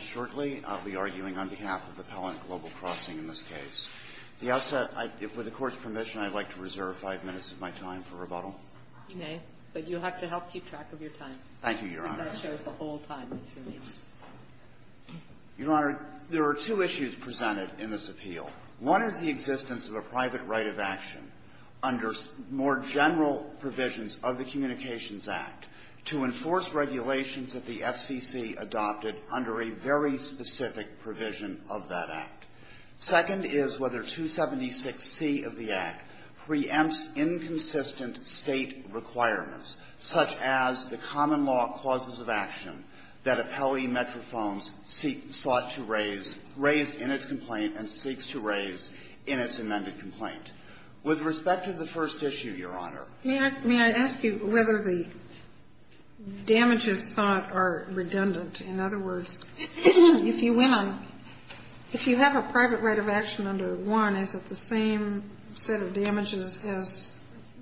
shortly. I'll be arguing on behalf of the Pellant Global Crossing in this case. With the Court's permission, I'd like to reserve five minutes of my time for rebuttal. You may, but you'll have to help keep track of your time. Thank you, Your Honor. Because that shows the whole time that's released. Your Honor, there are two issues presented in this appeal. One is the existence of a private right of action under more general provisions of the Communications Act to enforce regulations that the FCC adopted under a very specific provision of that Act. Second is whether 276C of the Act preempts inconsistent State requirements such as the common law clauses of action that appellee Metrophones sought to raise raised in its complaint and seeks to raise in its amended complaint. With respect to the first issue, Your Honor. May I ask you whether the damages sought are redundant? In other words, if you went on – if you have a private right of action under one, is it the same set of damages as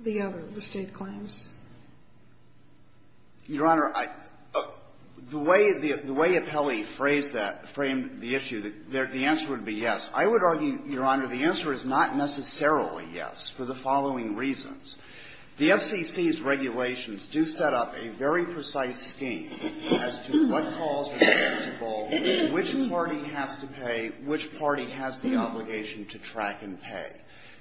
the other, the State claims? Your Honor, I – the way the – the way appellee phrased that – framed the issue, the answer would be yes. I would argue, Your Honor, the answer is not necessarily yes for the following reasons. The FCC's regulations do set up a very precise scheme as to what calls are responsible, which party has to pay, which party has the obligation to track and pay.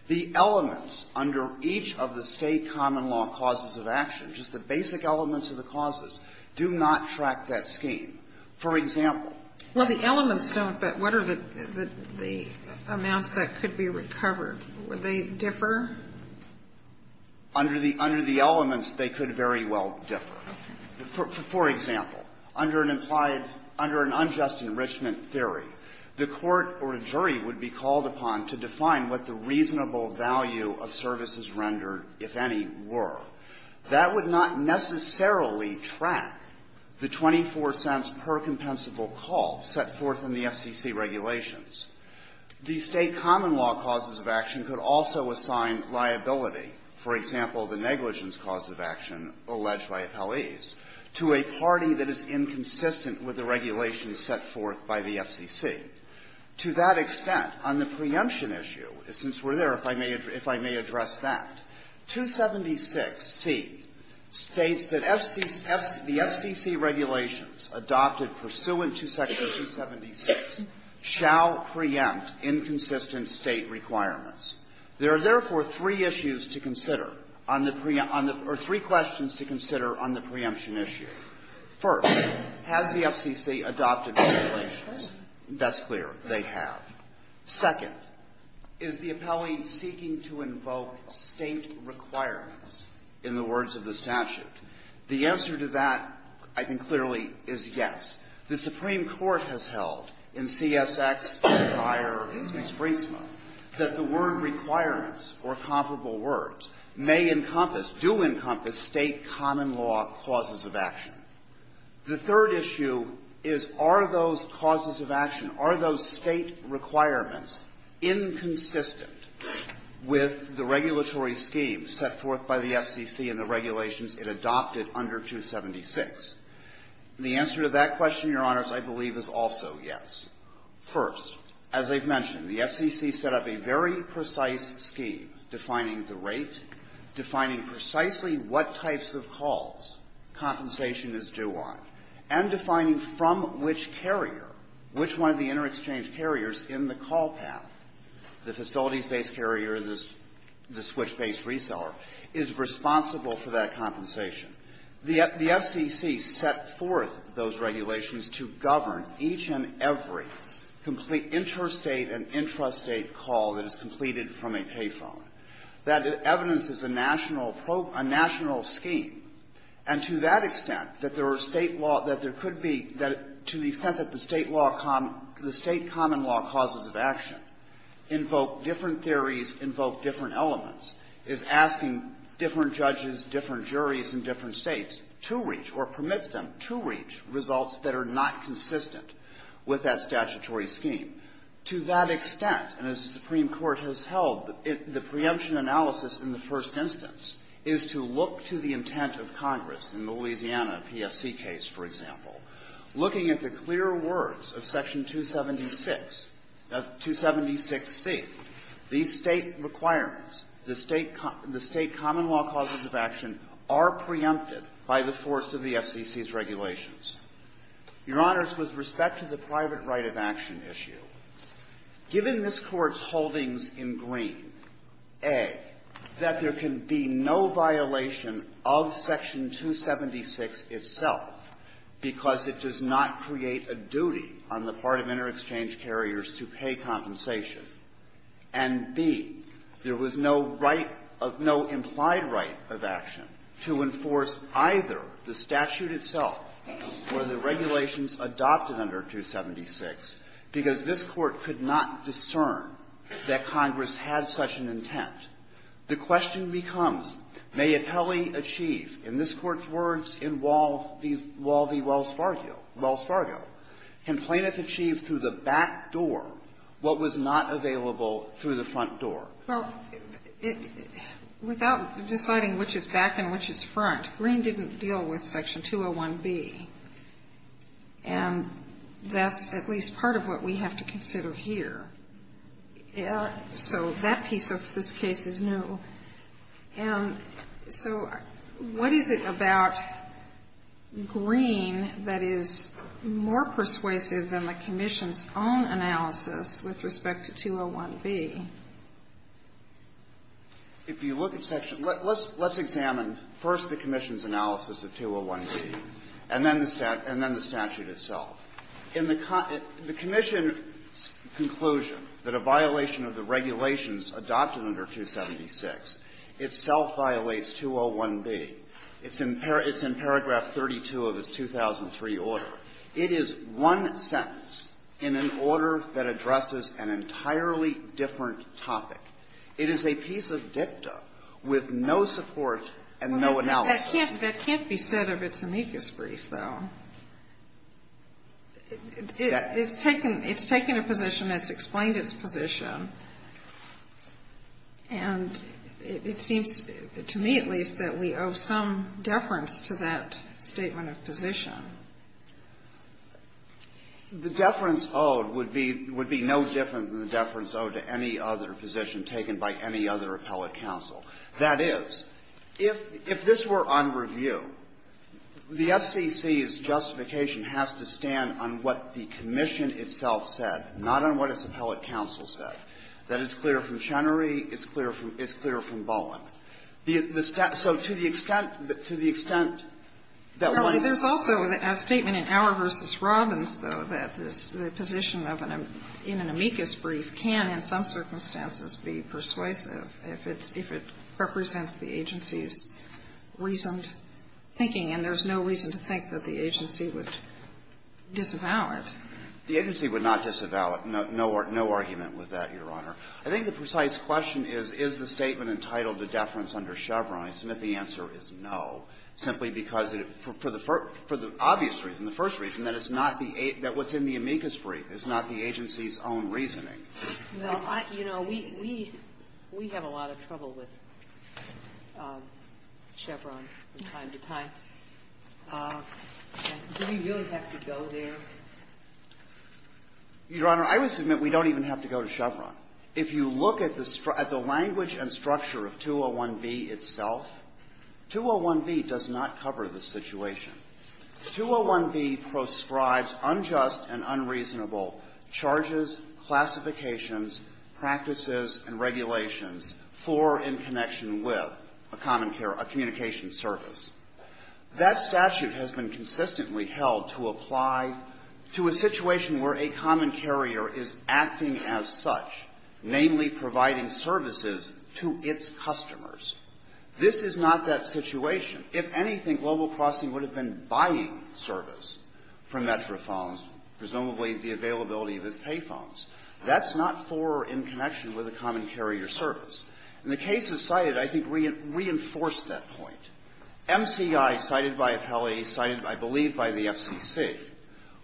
The elements under each of the State common law clauses of action, just the basic elements of the clauses, do not track that scheme. For example – Well, the elements don't, but what are the amounts that could be recovered? Would they differ? Under the – under the elements, they could very well differ. For example, under an implied – under an unjust enrichment theory, the court or a jury would be called upon to define what the reasonable value of services rendered, if any, were. That would not necessarily track the $0.24 per compensable call set forth in the FCC regulations. The State common law clauses of action could also assign liability, for example, the negligence cause of action alleged by appellees, to a party that is inconsistent with the regulations set forth by the FCC. To that extent, on the preemption issue, since we're there, if I may address that, 276C states that FC – the FCC regulations adopted pursuant to Section 276 shall not preempt inconsistent State requirements. There are, therefore, three issues to consider on the preempt – on the – or three questions to consider on the preemption issue. First, has the FCC adopted regulations? That's clear. They have. Second, is the appellee seeking to invoke State requirements in the words of the statute? The answer to that, I think, clearly is yes. The Supreme Court has held in CSX, Dyer, and Spreetsma that the word requirements or comparable words may encompass, do encompass State common law clauses of action. The third issue is, are those clauses of action, are those State requirements inconsistent with the regulatory scheme set forth by the FCC in the regulations it adopted under 276? The answer to that question, Your Honors, I believe is also yes. First, as I've mentioned, the FCC set up a very precise scheme defining the rate, defining precisely what types of calls compensation is due on, and defining from which carrier, which one of the inter-exchange carriers in the call path, the The FCC set forth those regulations to govern each and every complete interstate and intrastate call that is completed from a pay phone. That evidence is a national – a national scheme. And to that extent, that there are State law – that there could be – that to the extent that the State law – the State common law clauses of action invoke different theories, invoke different elements, is asking different judges, different juries in different States to reach or permits them to reach results that are not consistent with that statutory scheme. To that extent, and as the Supreme Court has held, the preemption analysis in the first instance is to look to the intent of Congress in the Louisiana PFC case, for example. Looking at the clear words of Section 276 – of 276C, these State requirements, the State – the State common law clauses of action are preempted by the force of the FCC's regulations. Your Honors, with respect to the private right of action issue, given this Court's holdings in green, A, that there can be no violation of Section 276 itself because it does not create a duty on the part of inter-exchange carriers to pay compensation, and, B, there was no right – no implied right of action to enforce either the statute itself or the regulations adopted under 276 because this Court could not discern that Congress had such an intent. The question becomes, may Apelli achieve, in this Court's words, in Wall v. Wells Fargo, can Planeth achieve through the back door what was not available through the front door? Well, without deciding which is back and which is front, Green didn't deal with Section 201b, and that's at least part of what we have to consider here. So that piece of this case is new. And so what is it about Green that is more persuasive than the Commission's own analysis with respect to 201b? If you look at Section – let's examine first the Commission's analysis of 201b and then the statute itself. In the Commission's conclusion that a violation of the regulations adopted under 276 itself violates 201b, it's in paragraph 32 of its 2003 order. It is one sentence in an order that addresses an entirely different topic. It is a piece of dicta with no support and no analysis. That can't be said of its amicus brief, though. It's taken a position that's explained its position, and it seems, to me at least, that we owe some deference to that statement of position. The deference owed would be no different than the deference owed to any other position taken by any other appellate counsel. That is, if this were on review, the FCC's justification has to stand on what the Commission itself said, not on what its appellate counsel said, that it's clear from Chenery, it's clear from Bolland. So to the extent that one – There's also a statement in Auer v. Robbins, though, that the position in an amicus brief can, in some circumstances, be persuasive if it's – if it represents the agency's reasoned thinking, and there's no reason to think that the agency would disavow it. The agency would not disavow it. No argument with that, Your Honor. I think the precise question is, is the statement entitled to deference under Chevron, and I submit the answer is no, simply because it – for the obvious reason, the first reason, that it's not the – that what's in the amicus brief is not the agency's own reasoning. Well, I – you know, we – we have a lot of trouble with Chevron from time to time. Do we really have to go there? Your Honor, I would submit we don't even have to go to Chevron. If you look at the – at the language and structure of 201B itself, 201B does not cover the situation. 201B proscribes unjust and unreasonable charges, classifications, practices, and regulations for in connection with a common carrier, a communications service. That statute has been consistently held to apply to a situation where a common carrier is acting as such, namely providing services to its customers. This is not that situation. If anything, Global Crossing would have been buying service from Metrophones, presumably the availability of its pay phones. That's not for or in connection with a common carrier service. And the cases cited, I think, reinforce that point. MCI, cited by Appellee, cited, I believe, by the FCC,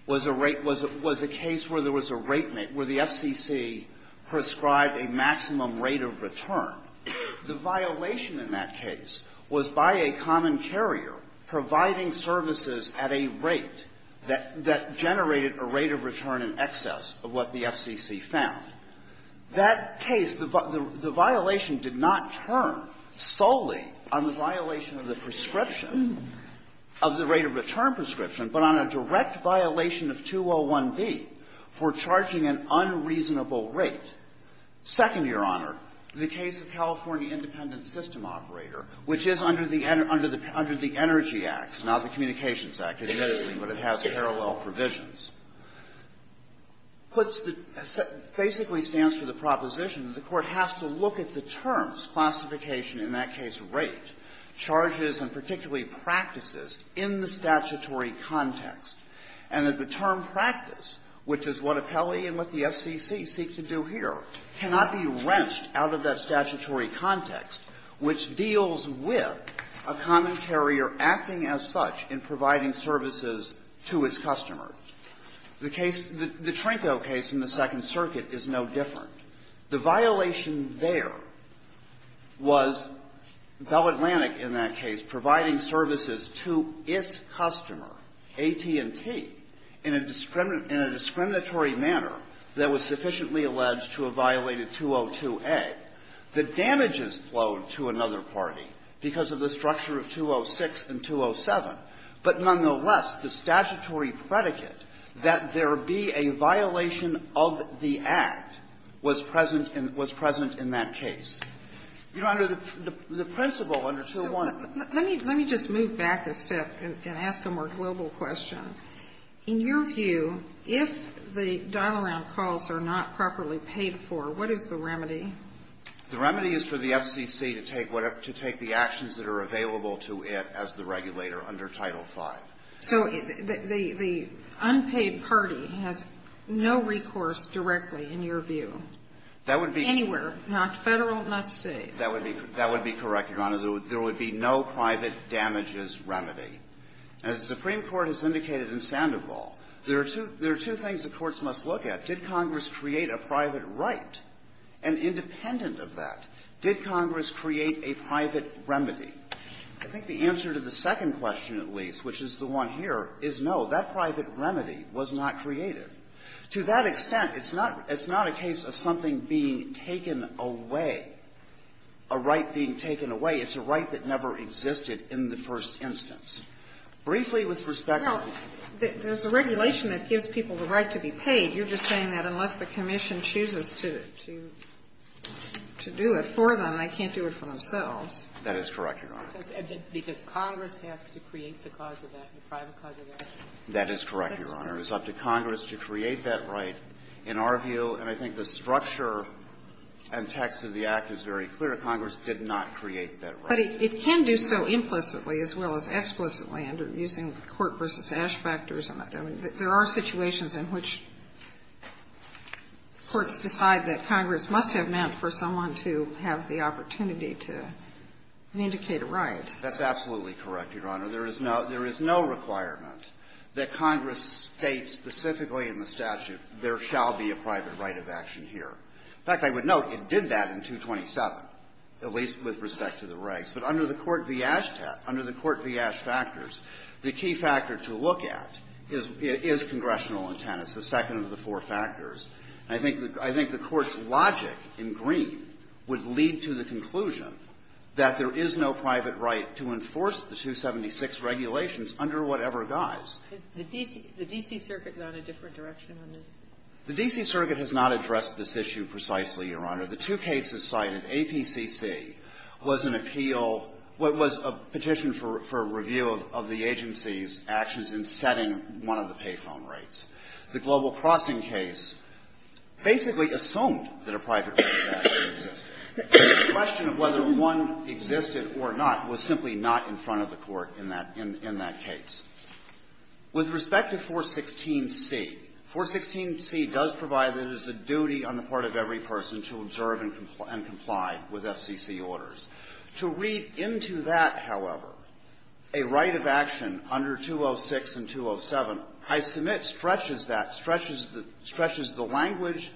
was a rate – was a case where there was a rate – where the FCC prescribed a maximum rate of return. The violation in that case was by a common carrier providing services at a rate that – that generated a rate of return in excess of what the FCC found. That case, the violation did not turn solely on the violation of the prescription, of the rate of return prescription, but on a direct violation of 201B for charging an unjust unreasonable rate. Second, Your Honor, the case of California Independent System Operator, which is under the Energy Act, not the Communications Act, admittedly, but it has parallel provisions, puts the – basically stands for the proposition that the Court has to look at the terms, classification, in that case, rate, charges, and particularly practices in the statutory context, and that the term practice, which is what Appellee and what the FCC seek to do here, cannot be wrenched out of that statutory context, which deals with a common carrier acting as such in providing services to its customer. The case – the Trinko case in the Second Circuit is no different. The violation there was Bell Atlantic, in that case, providing services to its customer, AT&T, in a discriminatory manner, and the violation there was that Bell Atlantic that was sufficiently alleged to have violated 202A. The damages flowed to another party because of the structure of 206 and 207, but nonetheless, the statutory predicate that there be a violation of the Act was present in – was present in that case. Your Honor, the principle under 201 – So let me – let me just move back a step and ask a more global question. In your view, if the dial-around calls are not properly paid for, what is the remedy? The remedy is for the FCC to take whatever – to take the actions that are available to it as the regulator under Title V. So the unpaid party has no recourse directly, in your view? That would be – Anywhere, not Federal, not State. That would be – that would be correct, Your Honor. There would be no private damages remedy. As the Supreme Court has indicated in Sandoval, there are two – there are two things the courts must look at. Did Congress create a private right? And independent of that, did Congress create a private remedy? I think the answer to the second question, at least, which is the one here, is no. That private remedy was not created. To that extent, it's not – it's not a case of something being taken away, a right being taken away. It's a right that never existed in the first instance. Briefly, with respect to the other things, I think the answer to the second question is no. There's a regulation that gives people the right to be paid. You're just saying that unless the Commission chooses to do it for them, they can't do it for themselves. That is correct, Your Honor. Because Congress has to create the cause of that, the private cause of that. That is correct, Your Honor. It's up to Congress to create that right, in our view. And I think the structure and text of the Act is very clear. Congress did not create that right. But it can do so implicitly as well as explicitly, under using court versus Ash factors. I mean, there are situations in which courts decide that Congress must have meant for someone to have the opportunity to vindicate a right. That's absolutely correct, Your Honor. There is no – there is no requirement that Congress state specifically in the statute, there shall be a private right of action here. In fact, I would note it did that in 227, at least with respect to the rights. But under the court v. Ash – under the court v. Ash factors, the key factor to look at is congressional intent. It's the second of the four factors. And I think the court's logic in Green would lead to the conclusion that there is no private right to enforce the 276 regulations under whatever guise. The D.C. – the D.C. Circuit is on a different direction on this? The D.C. Circuit has not addressed this issue precisely, Your Honor. The two cases cited, APCC was an appeal – was a petition for review of the agency's actions in setting one of the pay phone rates. The Global Crossing case basically assumed that a private right to action exists. The question of whether one existed or not was simply not in front of the court in that – in that case. With respect to 416C, 416C does provide that it is a duty on the part of every person to observe and comply with FCC orders. To read into that, however, a right of action under 206 and 207, I submit, stretches that – stretches the language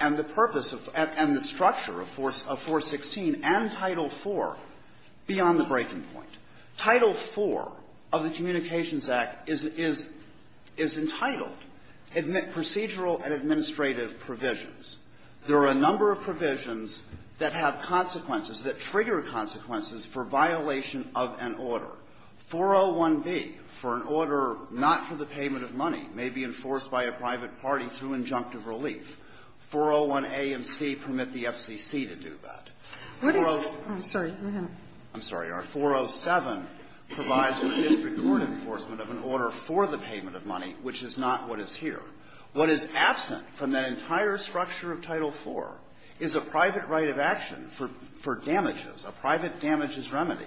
and the purpose of – and the structure of 416 and Title IV beyond the breaking point. Title IV of the Communications Act is – is entitled Procedural and Administrative Provisions. There are a number of provisions that have consequences, that trigger consequences for violation of an order. 401B, for an order not for the payment of money, may be enforced by a private party through injunctive relief. 401A and C permit the FCC to do that. What is – I'm sorry. Go ahead. I'm sorry. Our 407 provides for the district court enforcement of an order for the payment of money, which is not what is here. What is absent from that entire structure of Title IV is a private right of action for damages, a private damages remedy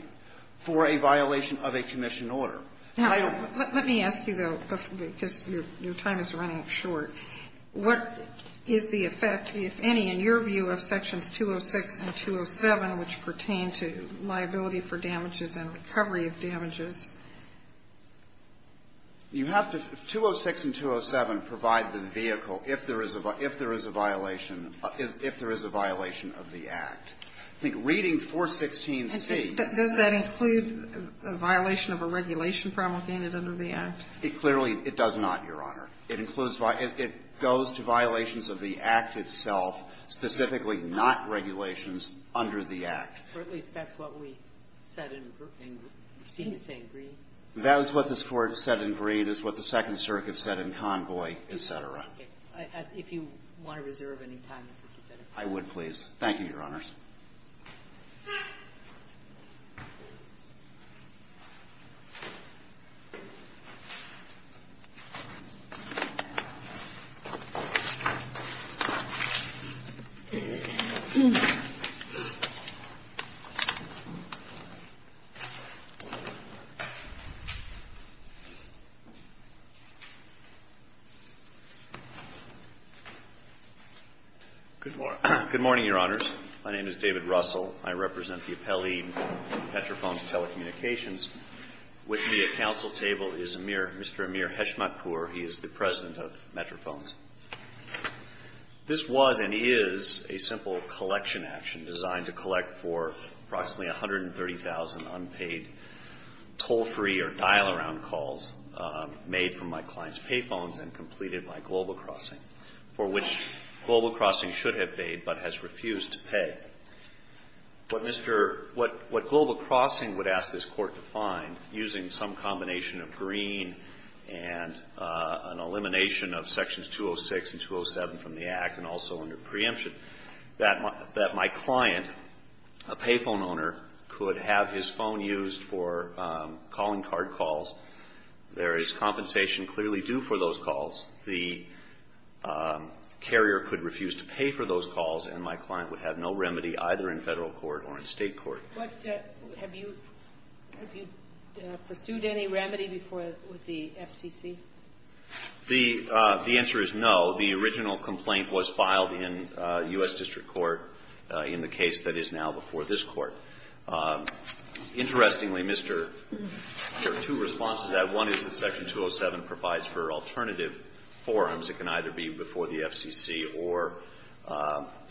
for a violation of a commission order. Now, let me ask you, though, because your time is running short. What is the effect, if any, in your view of Sections 206 and 207, which pertain to liability for damages and recovery of damages? You have to – 206 and 207 provide the vehicle if there is a – if there is a violation – if there is a violation of the Act. I think reading 416C – Does that include a violation of a regulation promulgated under the Act? It clearly – it does not, Your Honor. It includes – it goes to violations of the Act itself, specifically not regulations under the Act. Or at least that's what we said in – we seem to say in Greed. That is what this Court said in Greed, is what the Second Circuit said in Convoy, et cetera. If you want to reserve any time, that would be better. I would, please. Thank you, Your Honors. Good morning, Your Honors. My name is David Russell. I represent the appellee Petrophones Telecommunications. With me at counsel table is Amir – Mr. Amir Heshmatpour. He is the president of Petrophones. This was and is a simple collection action designed to collect for approximately 130,000 unpaid toll-free or dial-around calls made from my client's payphones and completed by Global Crossing, for which Global Crossing should have paid but has refused to pay. What Mr. – what Global Crossing would ask this Court to find, using some combination of Green and an elimination of Sections 206 and 207 from the Act, and also under preemption, that my – that my client, a payphone owner, could have his phone used for calling card calls. There is compensation clearly due for those calls. The carrier could refuse to pay for those calls, and my client would have no remedy either in Federal court or in State court. What – have you – have you pursued any remedy before – with the FCC? The answer is no. The original complaint was filed in U.S. District Court in the case that is now before this Court. Interestingly, Mr. – there are two responses to that. One is that Section 207 provides for alternative forums that can either be before the FCC or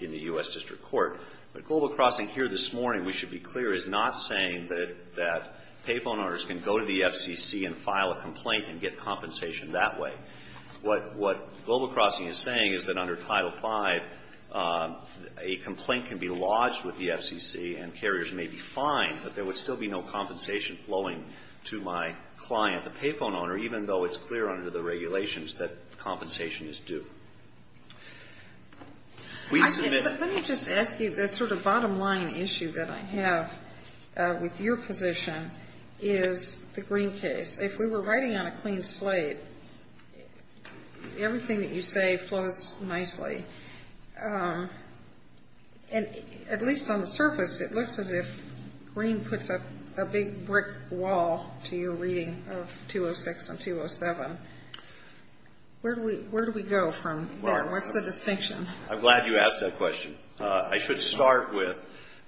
in the U.S. District Court. But Global Crossing here this morning, we should be clear, is not saying that – that payphone owners can go to the FCC and file a complaint and get compensation that way. What – what Global Crossing is saying is that under Title V, a complaint can be lodged with the FCC and carriers may be fined, but there would still be no compensation flowing to my client, the payphone owner, even though it's clear under the regulations that compensation is due. We submit – But let me just ask you, the sort of bottom line issue that I have with your position is the Green case. If we were writing on a clean slate, everything that you say flows nicely. And at least on the surface, it looks as if Green puts up a big brick wall to your reading of 206 and 207. Where do we – where do we go from there? What's the distinction? I'm glad you asked that question. I should start with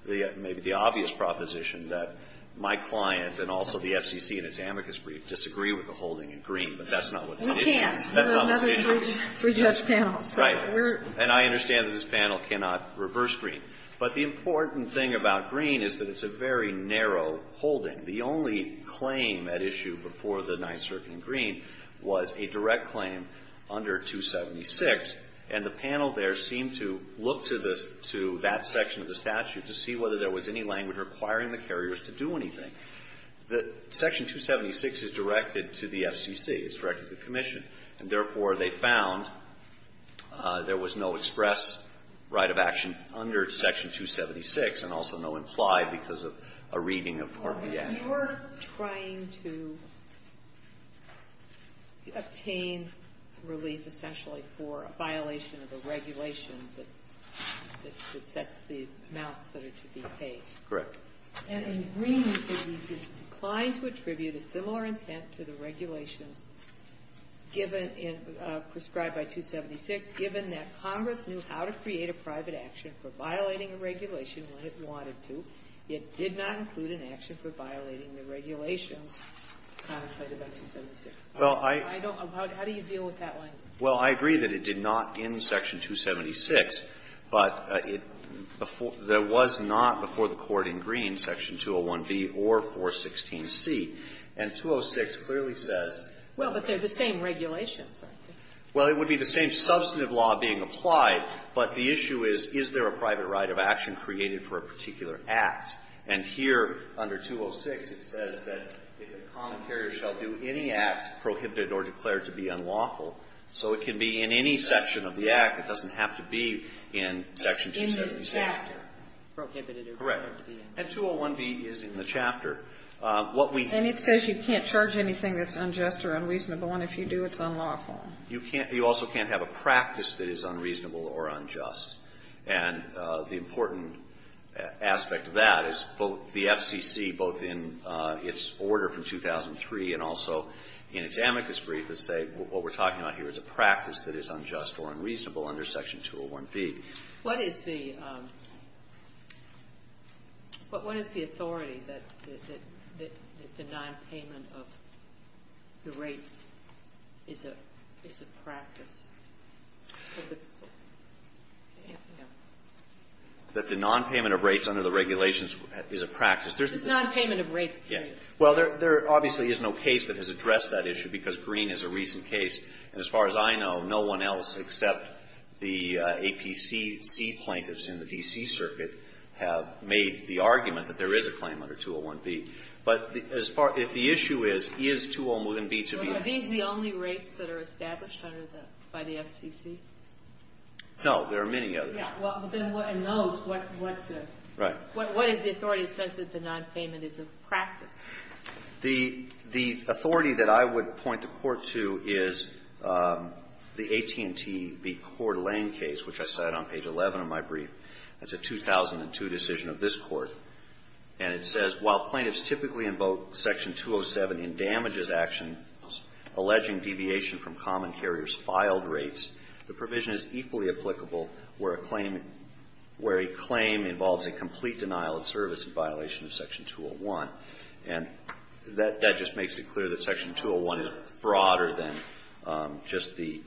the – maybe the obvious proposition that my client and also the FCC in its amicus brief disagree with the holding in Green, but that's not what's at issue. We can't. That's not what's at issue. There's another three-judge panel. Right. We're – And I understand that this panel cannot reverse Green. But the important thing about Green is that it's a very narrow holding. The only claim at issue before the Ninth Circuit in Green was a direct claim under 276, and the panel there seemed to look to the – to that section of the statute to see whether there was any language requiring the carriers to do anything. The – Section 276 is directed to the FCC. It's directed to the Commission. And therefore, they found there was no express right of action under Section 276 and also no implied because of a reading of Part B and – You're trying to obtain relief, essentially, for a violation of a regulation that's – that sets the amounts that are to be paid. Correct. And in Green, you said we declined to attribute a similar intent to the regulations given in – prescribed by 276, given that Congress knew how to create a private action for violating a regulation when it wanted to, yet did not include an action for violating the regulations contemplated by 276. Well, I – I don't – how do you deal with that language? Well, I agree that it did not in Section 276, but it – there was not before the Court in Green Section 201B or 416C. And 206 clearly says – Well, but they're the same regulations, aren't they? Well, it would be the same substantive law being applied, but the issue is, is there a private right of action created for a particular act? And here, under 206, it says that a common carrier shall do any act prohibited or declared to be unlawful. So it can be in any section of the Act. It doesn't have to be in Section 276. In this chapter, prohibited or declared to be unlawful. Correct. And 201B is in the chapter. What we – And it says you can't charge anything that's unjust or unreasonable, and if you do, it's unlawful. You can't – you also can't have a practice that is unreasonable or unjust. And the important aspect of that is both the FCC, both in its order from 2003 and also in its amicus brief, would say what we're talking about here is a practice that is unjust or unreasonable under Section 201B. What is the – what is the authority that the nonpayment of the rates is a – is a practice? That the nonpayment of rates under the regulations is a practice. There's the – It's nonpayment of rates, period. Yeah. Well, there – there obviously is no case that has addressed that issue, because Greene is a recent case. And as far as I know, no one else except the APCC plaintiffs in the D.C. Circuit have made the argument that there is a claim under 201B. But as far – if the issue is, is 201B to be – Are these the only rates that are established under the – by the FCC? No. There are many others. Yeah. Well, then what – and those, what's the – Right. What is the authority that says that the nonpayment is a practice? The – the authority that I would point the Court to is the AT&T v. Cord Lane case, which I cited on page 11 of my brief. That's a 2002 decision of this Court. And it says, While plaintiffs typically invoke Section 207 in damages actions alleging deviation from common carrier's filed rates, the provision is equally applicable where a claim – where a claim involves a complete denial of service in violation of Section 201. And that – that just makes it clear that Section 201 is frauder than just the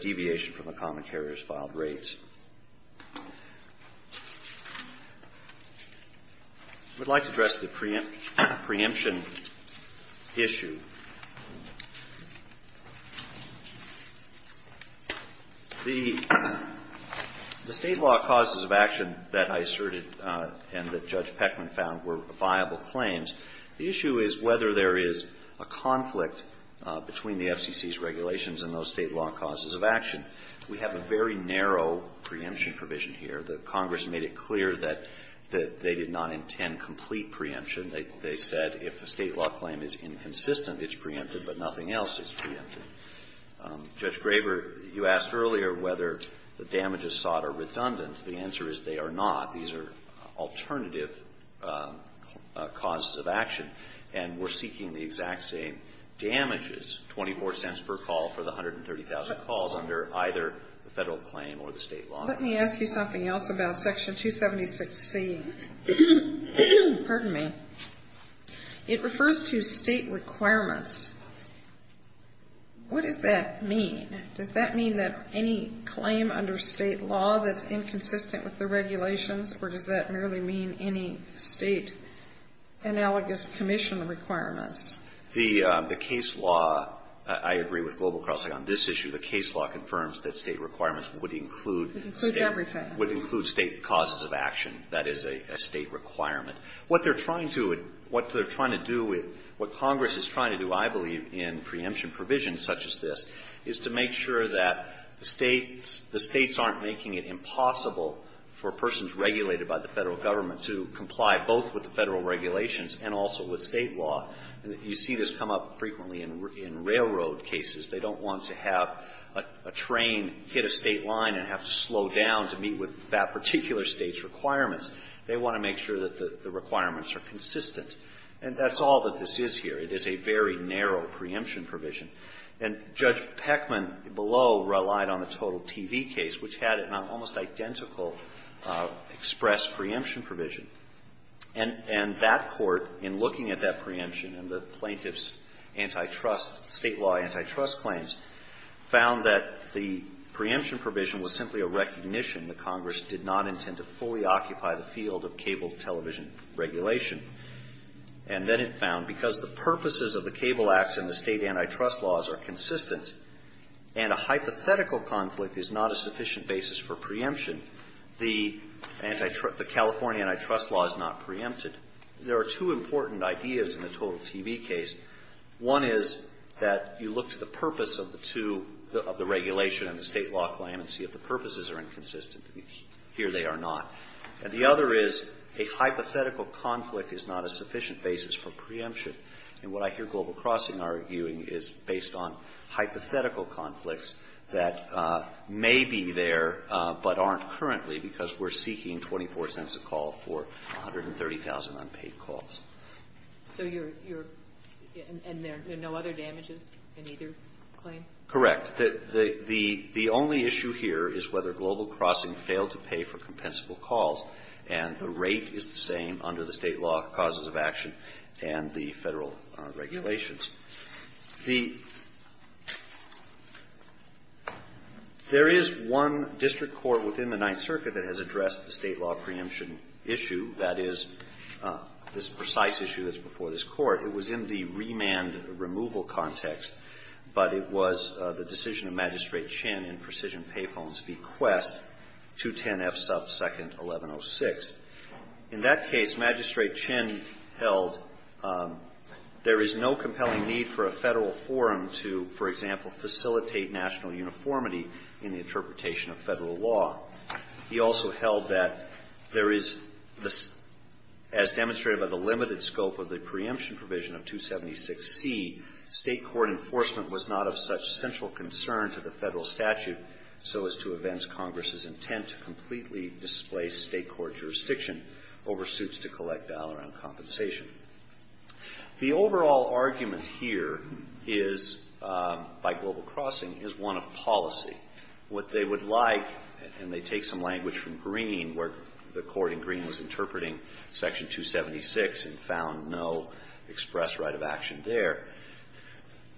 deviation from a common carrier's filed rates. I would like to address the preemption issue. The State law causes of action that I asserted and that Judge Peckman found were viable claims, the issue is whether there is a conflict between the FCC's regulations and those State law causes of action. We have a very narrow preemption provision here. The Congress made it clear that they did not intend complete preemption. They said if a State law claim is inconsistent, it's preempted, but nothing else is preempted. Judge Graber, you asked earlier whether the damages sought are redundant. The answer is they are not. These are alternative causes of action. And we're seeking the exact same damages, $0.24 per call for the 130,000 calls under either the Federal claim or the State law. Let me ask you something else about Section 276C. Pardon me. It refers to State requirements. What does that mean? Does that mean that any claim under State law that's inconsistent with the regulations or does that merely mean any State analogous commission requirements? The case law, I agree with Global Crossing on this issue, the case law confirms that State requirements would include State causes of action. That is a State requirement. What they're trying to do with what Congress is trying to do, I believe, in preemption provisions such as this, is to make sure that the States aren't making it impossible for persons regulated by the Federal government to comply both with the Federal regulations and also with State law. You see this come up frequently in railroad cases. They don't want to have a train hit a State line and have to slow down to meet with that particular State's requirements. They want to make sure that the requirements are consistent. And that's all that this is here. It is a very narrow preemption provision. And Judge Peckman below relied on the Total TV case, which had an almost identical express preemption provision. And that Court, in looking at that preemption and the plaintiff's antitrust State law antitrust claims, found that the preemption provision was simply a recognition that Congress did not intend to fully occupy the field of cable television regulation. And then it found because the purposes of the cable acts in the State antitrust laws are consistent and a hypothetical conflict is not a sufficient basis for preemption, the California antitrust law is not preempted. There are two important ideas in the Total TV case. One is that you look to the purpose of the two, of the regulation and the State law claim, and see if the purposes are inconsistent. Here they are not. And the other is a hypothetical conflict is not a sufficient basis for preemption. And what I hear Global Crossing arguing is based on hypothetical conflicts that may be there but aren't currently because we're seeking 24 cents a call for 130,000 unpaid calls. So you're, you're, and there are no other damages in either claim? Correct. The, the, the only issue here is whether Global Crossing failed to pay for compensable calls, and the rate is the same under the State law causes of action and the Federal regulations. The, there is one district court within the Ninth Circuit that has addressed the State law preemption issue. That is, this precise issue that's before this Court. It was in the remand removal context, but it was the decision of Magistrate Chin in Precision Payphone's bequest, 210F sub second 1106. In that case, Magistrate Chin held there is no compelling need for a Federal forum to, for example, facilitate national uniformity in the interpretation of Federal law. He also held that there is the, as demonstrated by the limited scope of the preemption provision of 276C, State court enforcement was not of such central concern to the Federal statute so as to advance Congress's intent to completely displace State court jurisdiction over suits to collect dollar-on-compensation. The overall argument here is, by Global Crossing, is one of policy. What they would like, and they take some language from Green, where the court in Green was interpreting section 276 and found no express right of action there,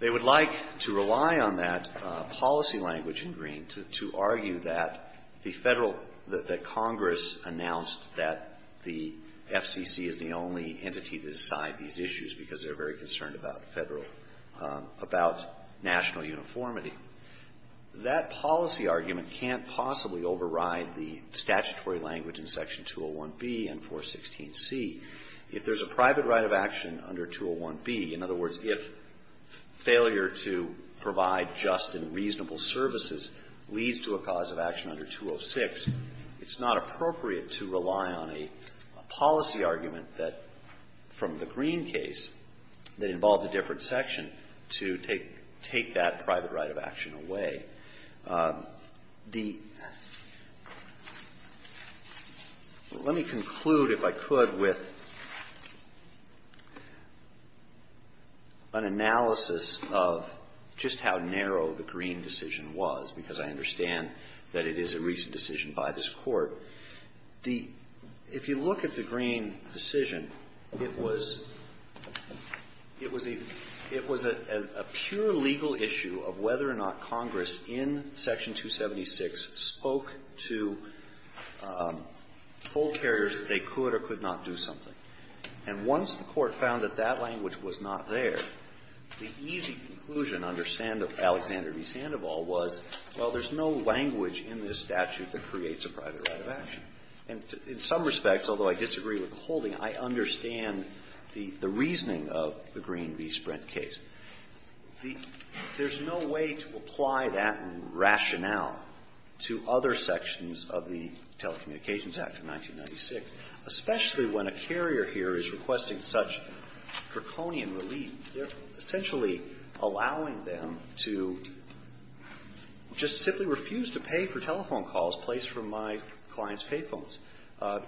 they would like to rely on that policy language in Green to, to argue that the Federal, that Congress announced that the FCC is the only entity to decide these issues because they're very concerned about Federal, about national uniformity. That policy argument can't possibly override the statutory language in section 201B and 416C. If there's a private right of action under 201B, in other words, if failure to provide just and reasonable services leads to a cause of action under 206, it's not appropriate to rely on a policy argument that, from the Green case, that involved a different section to take, take that private right of action away. The let me conclude, if I could, with an analysis of just how narrow the Green decision was, because I understand that it is a recent decision by this Court. The, if you look at the Green decision, it was, it was a, it was a, it was a, it was a, it was a, a pure legal issue of whether or not Congress in section 276 spoke to toll carriers that they could or could not do something. And once the Court found that that language was not there, the easy conclusion under Sandoval, Alexander v. Sandoval, was, well, there's no language in this statute that creates a private right of action. And in some respects, although I disagree with the holding, I understand the, the case, the, there's no way to apply that rationale to other sections of the Telecommunications Act of 1996, especially when a carrier here is requesting such draconian relief. They're essentially allowing them to just simply refuse to pay for telephone calls placed from my client's pay phones.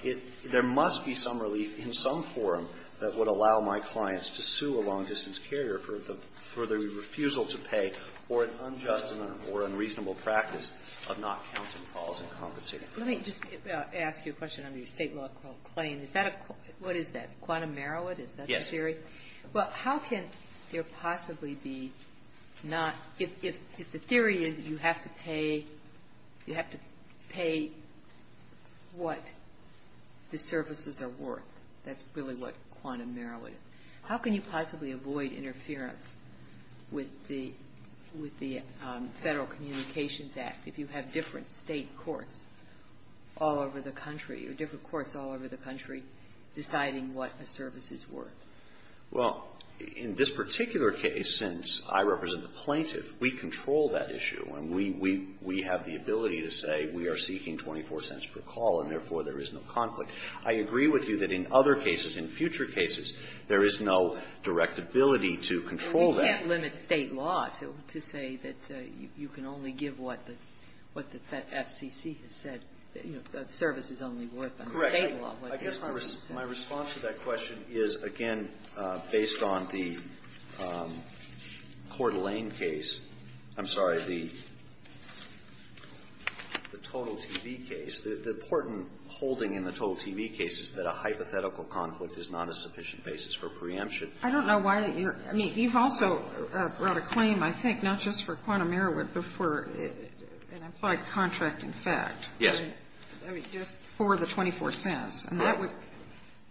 It, there must be some relief in some forum that would allow my clients to sue a long-distance carrier for the refusal to pay, or an unjust or unreasonable practice of not counting calls and compensating. Ginsburg. Let me just ask you a question on your State law claim. Is that a, what is that, quantum merit, is that the theory? Yes. Well, how can there possibly be not, if, if, if the theory is you have to pay, you have to pay what the services are worth, that's really what quantum merit is, how can you possibly avoid interference with the, with the Federal Communications Act if you have different State courts all over the country, or different courts all over the country, deciding what the services were? Well, in this particular case, since I represent the plaintiff, we control that issue. And we, we, we have the ability to say we are seeking 24 cents per call, and therefore there is no conflict. I agree with you that in other cases, in future cases, there is no direct ability to control that. Well, we can't limit State law to, to say that you can only give what the, what the FCC has said, you know, the service is only worth under State law. Correct. I guess my, my response to that question is, again, based on the Coeur d'Alene case, I'm sorry, the, the Total TV case, the important holding in the Total TV case is that a hypothetical conflict is not a sufficient basis for preemption. I don't know why you're, I mean, you've also brought a claim, I think, not just for quantum merit, but for an implied contract in fact. Yes. I mean, just for the 24 cents. Correct. And that would,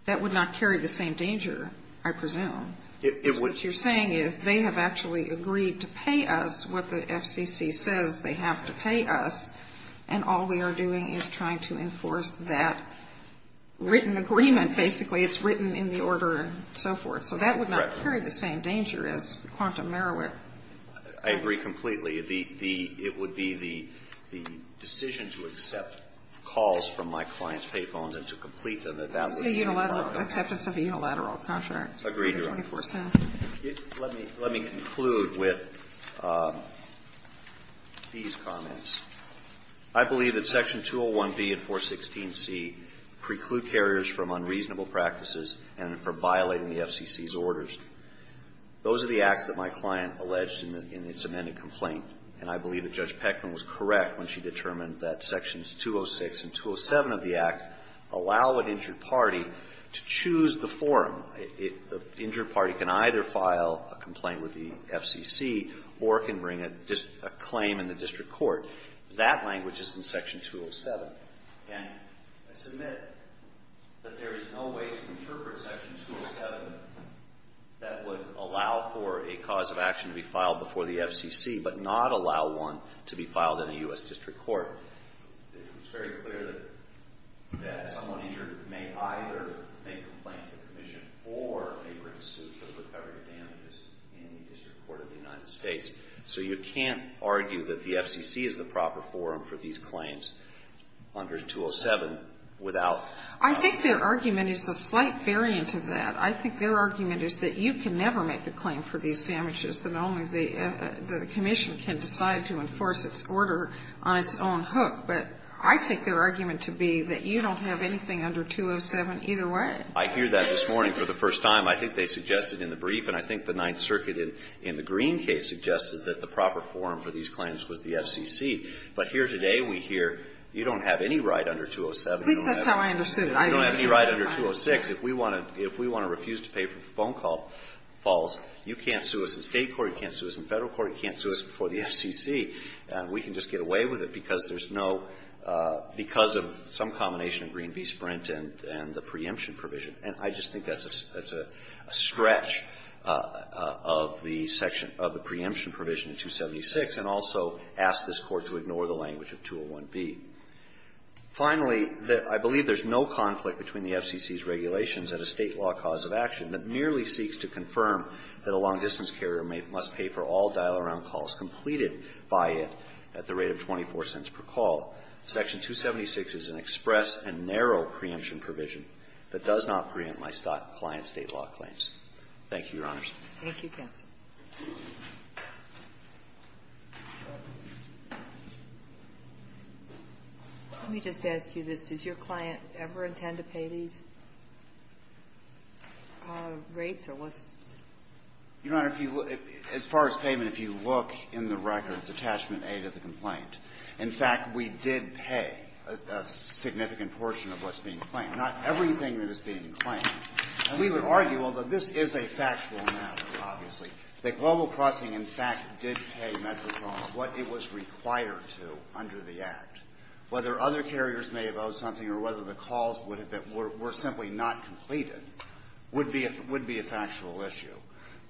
that would not carry the same danger, I presume. It, it would. Because what you're saying is they have actually agreed to pay us what the FCC says they have to pay us, and all we are doing is trying to enforce that written agreement basically. It's written in the order and so forth. So that would not carry the same danger as quantum merit. I agree completely. The, the, it would be the, the decision to accept calls from my clients' pay phones and to complete them, that that would be a problem. It's a unilateral, acceptance of a unilateral contract. Agreed to. For the 24 cents. Let me, let me conclude with these comments. I believe that Section 201B and 416C preclude carriers from unreasonable practices and for violating the FCC's orders. Those are the acts that my client alleged in the, in its amended complaint. And I believe that Judge Peckman was correct when she determined that Sections 206 and 207 of the Act allow an injured party to choose the forum. It, the injured party can either file a complaint with the FCC or can bring a claim in the district court. That language is in Section 207. And I submit that there is no way to interpret Section 207 that would allow for a cause of action to be filed before the FCC but not allow one to be filed in a U.S. district court. It's very clear that, that someone injured may either make a complaint to the commission or may bring a suit for the recovery of damages in the district court of the United States. So you can't argue that the FCC is the proper forum for these claims under 207 without. I think their argument is a slight variant of that. I think their argument is that you can never make a claim for these damages, that only the, the commission can decide to enforce its order on its own hook. But I take their argument to be that you don't have anything under 207 either way. I hear that this morning for the first time. I think they suggested in the brief and I think the Ninth Circuit in the Green case suggested that the proper forum for these claims was the FCC. But here today we hear you don't have any right under 207. At least that's how I understood it. You don't have any right under 206. If we want to refuse to pay for the phone calls, you can't sue us in State court, you can't sue us in Federal court, you can't sue us before the FCC. We can just get away with it because there's no, because of some combination of Green v. Sprint and the preemption provision. And I just think that's a stretch of the section of the preemption provision in 276 and also ask this Court to ignore the language of 201b. Finally, I believe there's no conflict between the FCC's regulations and a State law cause of action that merely seeks to confirm that a long-distance carrier must pay for all dial-around calls completed by it at the rate of 24 cents per call. Section 276 is an express and narrow preemption provision that does not preempt my client's State law claims. Thank you, Your Honors. Thank you, counsel. Let me just ask you this. Does your client ever intend to pay these rates or what's? Your Honor, as far as payment, if you look in the record, it's attachment A to the complaint. In fact, we did pay a significant portion of what's being claimed, not everything that is being claimed. And we would argue, although this is a factual matter, obviously, that Global Crossing, in fact, did pay Metrocom what it was required to under the Act. Whether other carriers may have owed something or whether the calls were simply not completed would be a factual issue.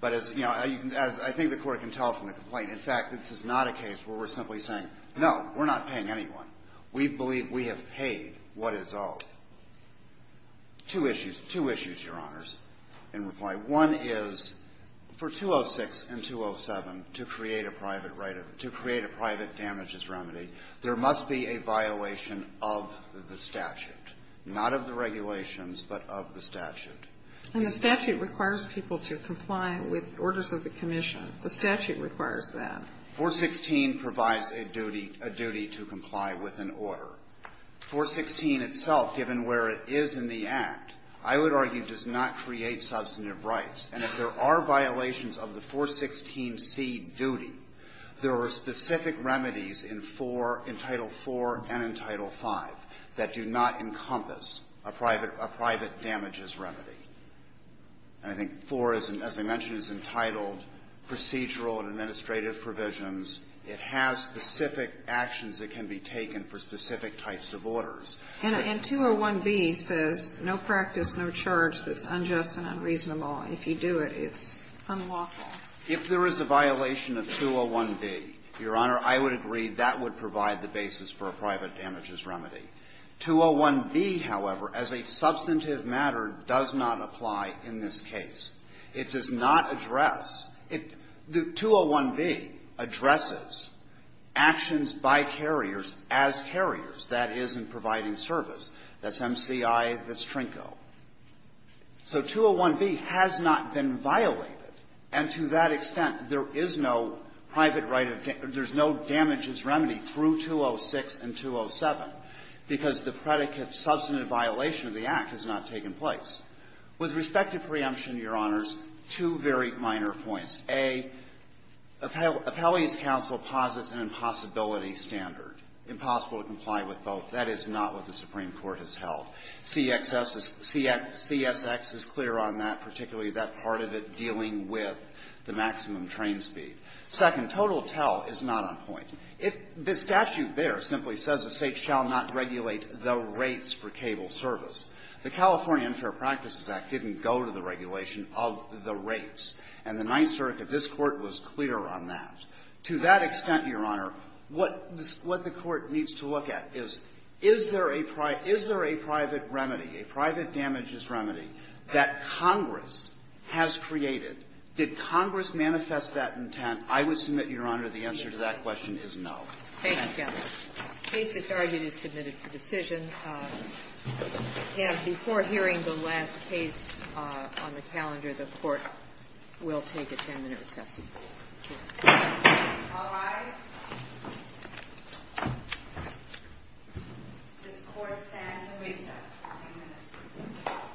But as, you know, as I think the Court can tell from the complaint, in fact, this is not a case where we're simply saying, no, we're not paying anyone. We believe we have paid what is owed. Two issues. Two issues, Your Honors, in reply. One is for 206 and 207 to create a private damages remedy, there must be a violation of the statute, not of the regulations, but of the statute. And the statute requires people to comply with orders of the commission. The statute requires that. 416 provides a duty to comply with an order. 416 itself, given where it is in the Act, I would argue does not create substantive rights. And if there are violations of the 416C duty, there are specific remedies in 4, in Title IV and in Title V that do not encompass a private damages remedy. And I think 4, as I mentioned, is entitled procedural and administrative provisions. It has specific actions that can be taken for specific types of orders. And 201B says no practice, no charge that's unjust and unreasonable. If you do it, it's unlawful. If there is a violation of 201B, Your Honor, I would agree that would provide the basis for a private damages remedy. 201B, however, as a substantive matter, does not apply in this case. It does not address the 201B addresses actions by carriers as carriers. That is in providing service. That's MCI. That's TRNCO. So 201B has not been violated. And to that extent, there is no private right of damage. There's no damages remedy through 206 and 207. Because the predicate substantive violation of the Act has not taken place. With respect to preemption, Your Honors, two very minor points. A, Appellee's counsel posits an impossibility standard, impossible to comply with both. That is not what the Supreme Court has held. CSX is clear on that, particularly that part of it dealing with the maximum train speed. Second, total tell is not on point. If the statute there simply says a State shall not regulate the rates for cable service, the California Unfair Practices Act didn't go to the regulation of the rates. And the Ninth Circuit, this Court, was clear on that. To that extent, Your Honor, what the Court needs to look at is, is there a private remedy, a private damages remedy that Congress has created? Did Congress manifest that intent? I would submit, Your Honor, the answer to that question is no. Thank you, counsel. The case, as argued, is submitted for decision. And before hearing the last case on the calendar, the Court will take a 10-minute recess. All rise. This Court stands at recess for 10 minutes. Thank you.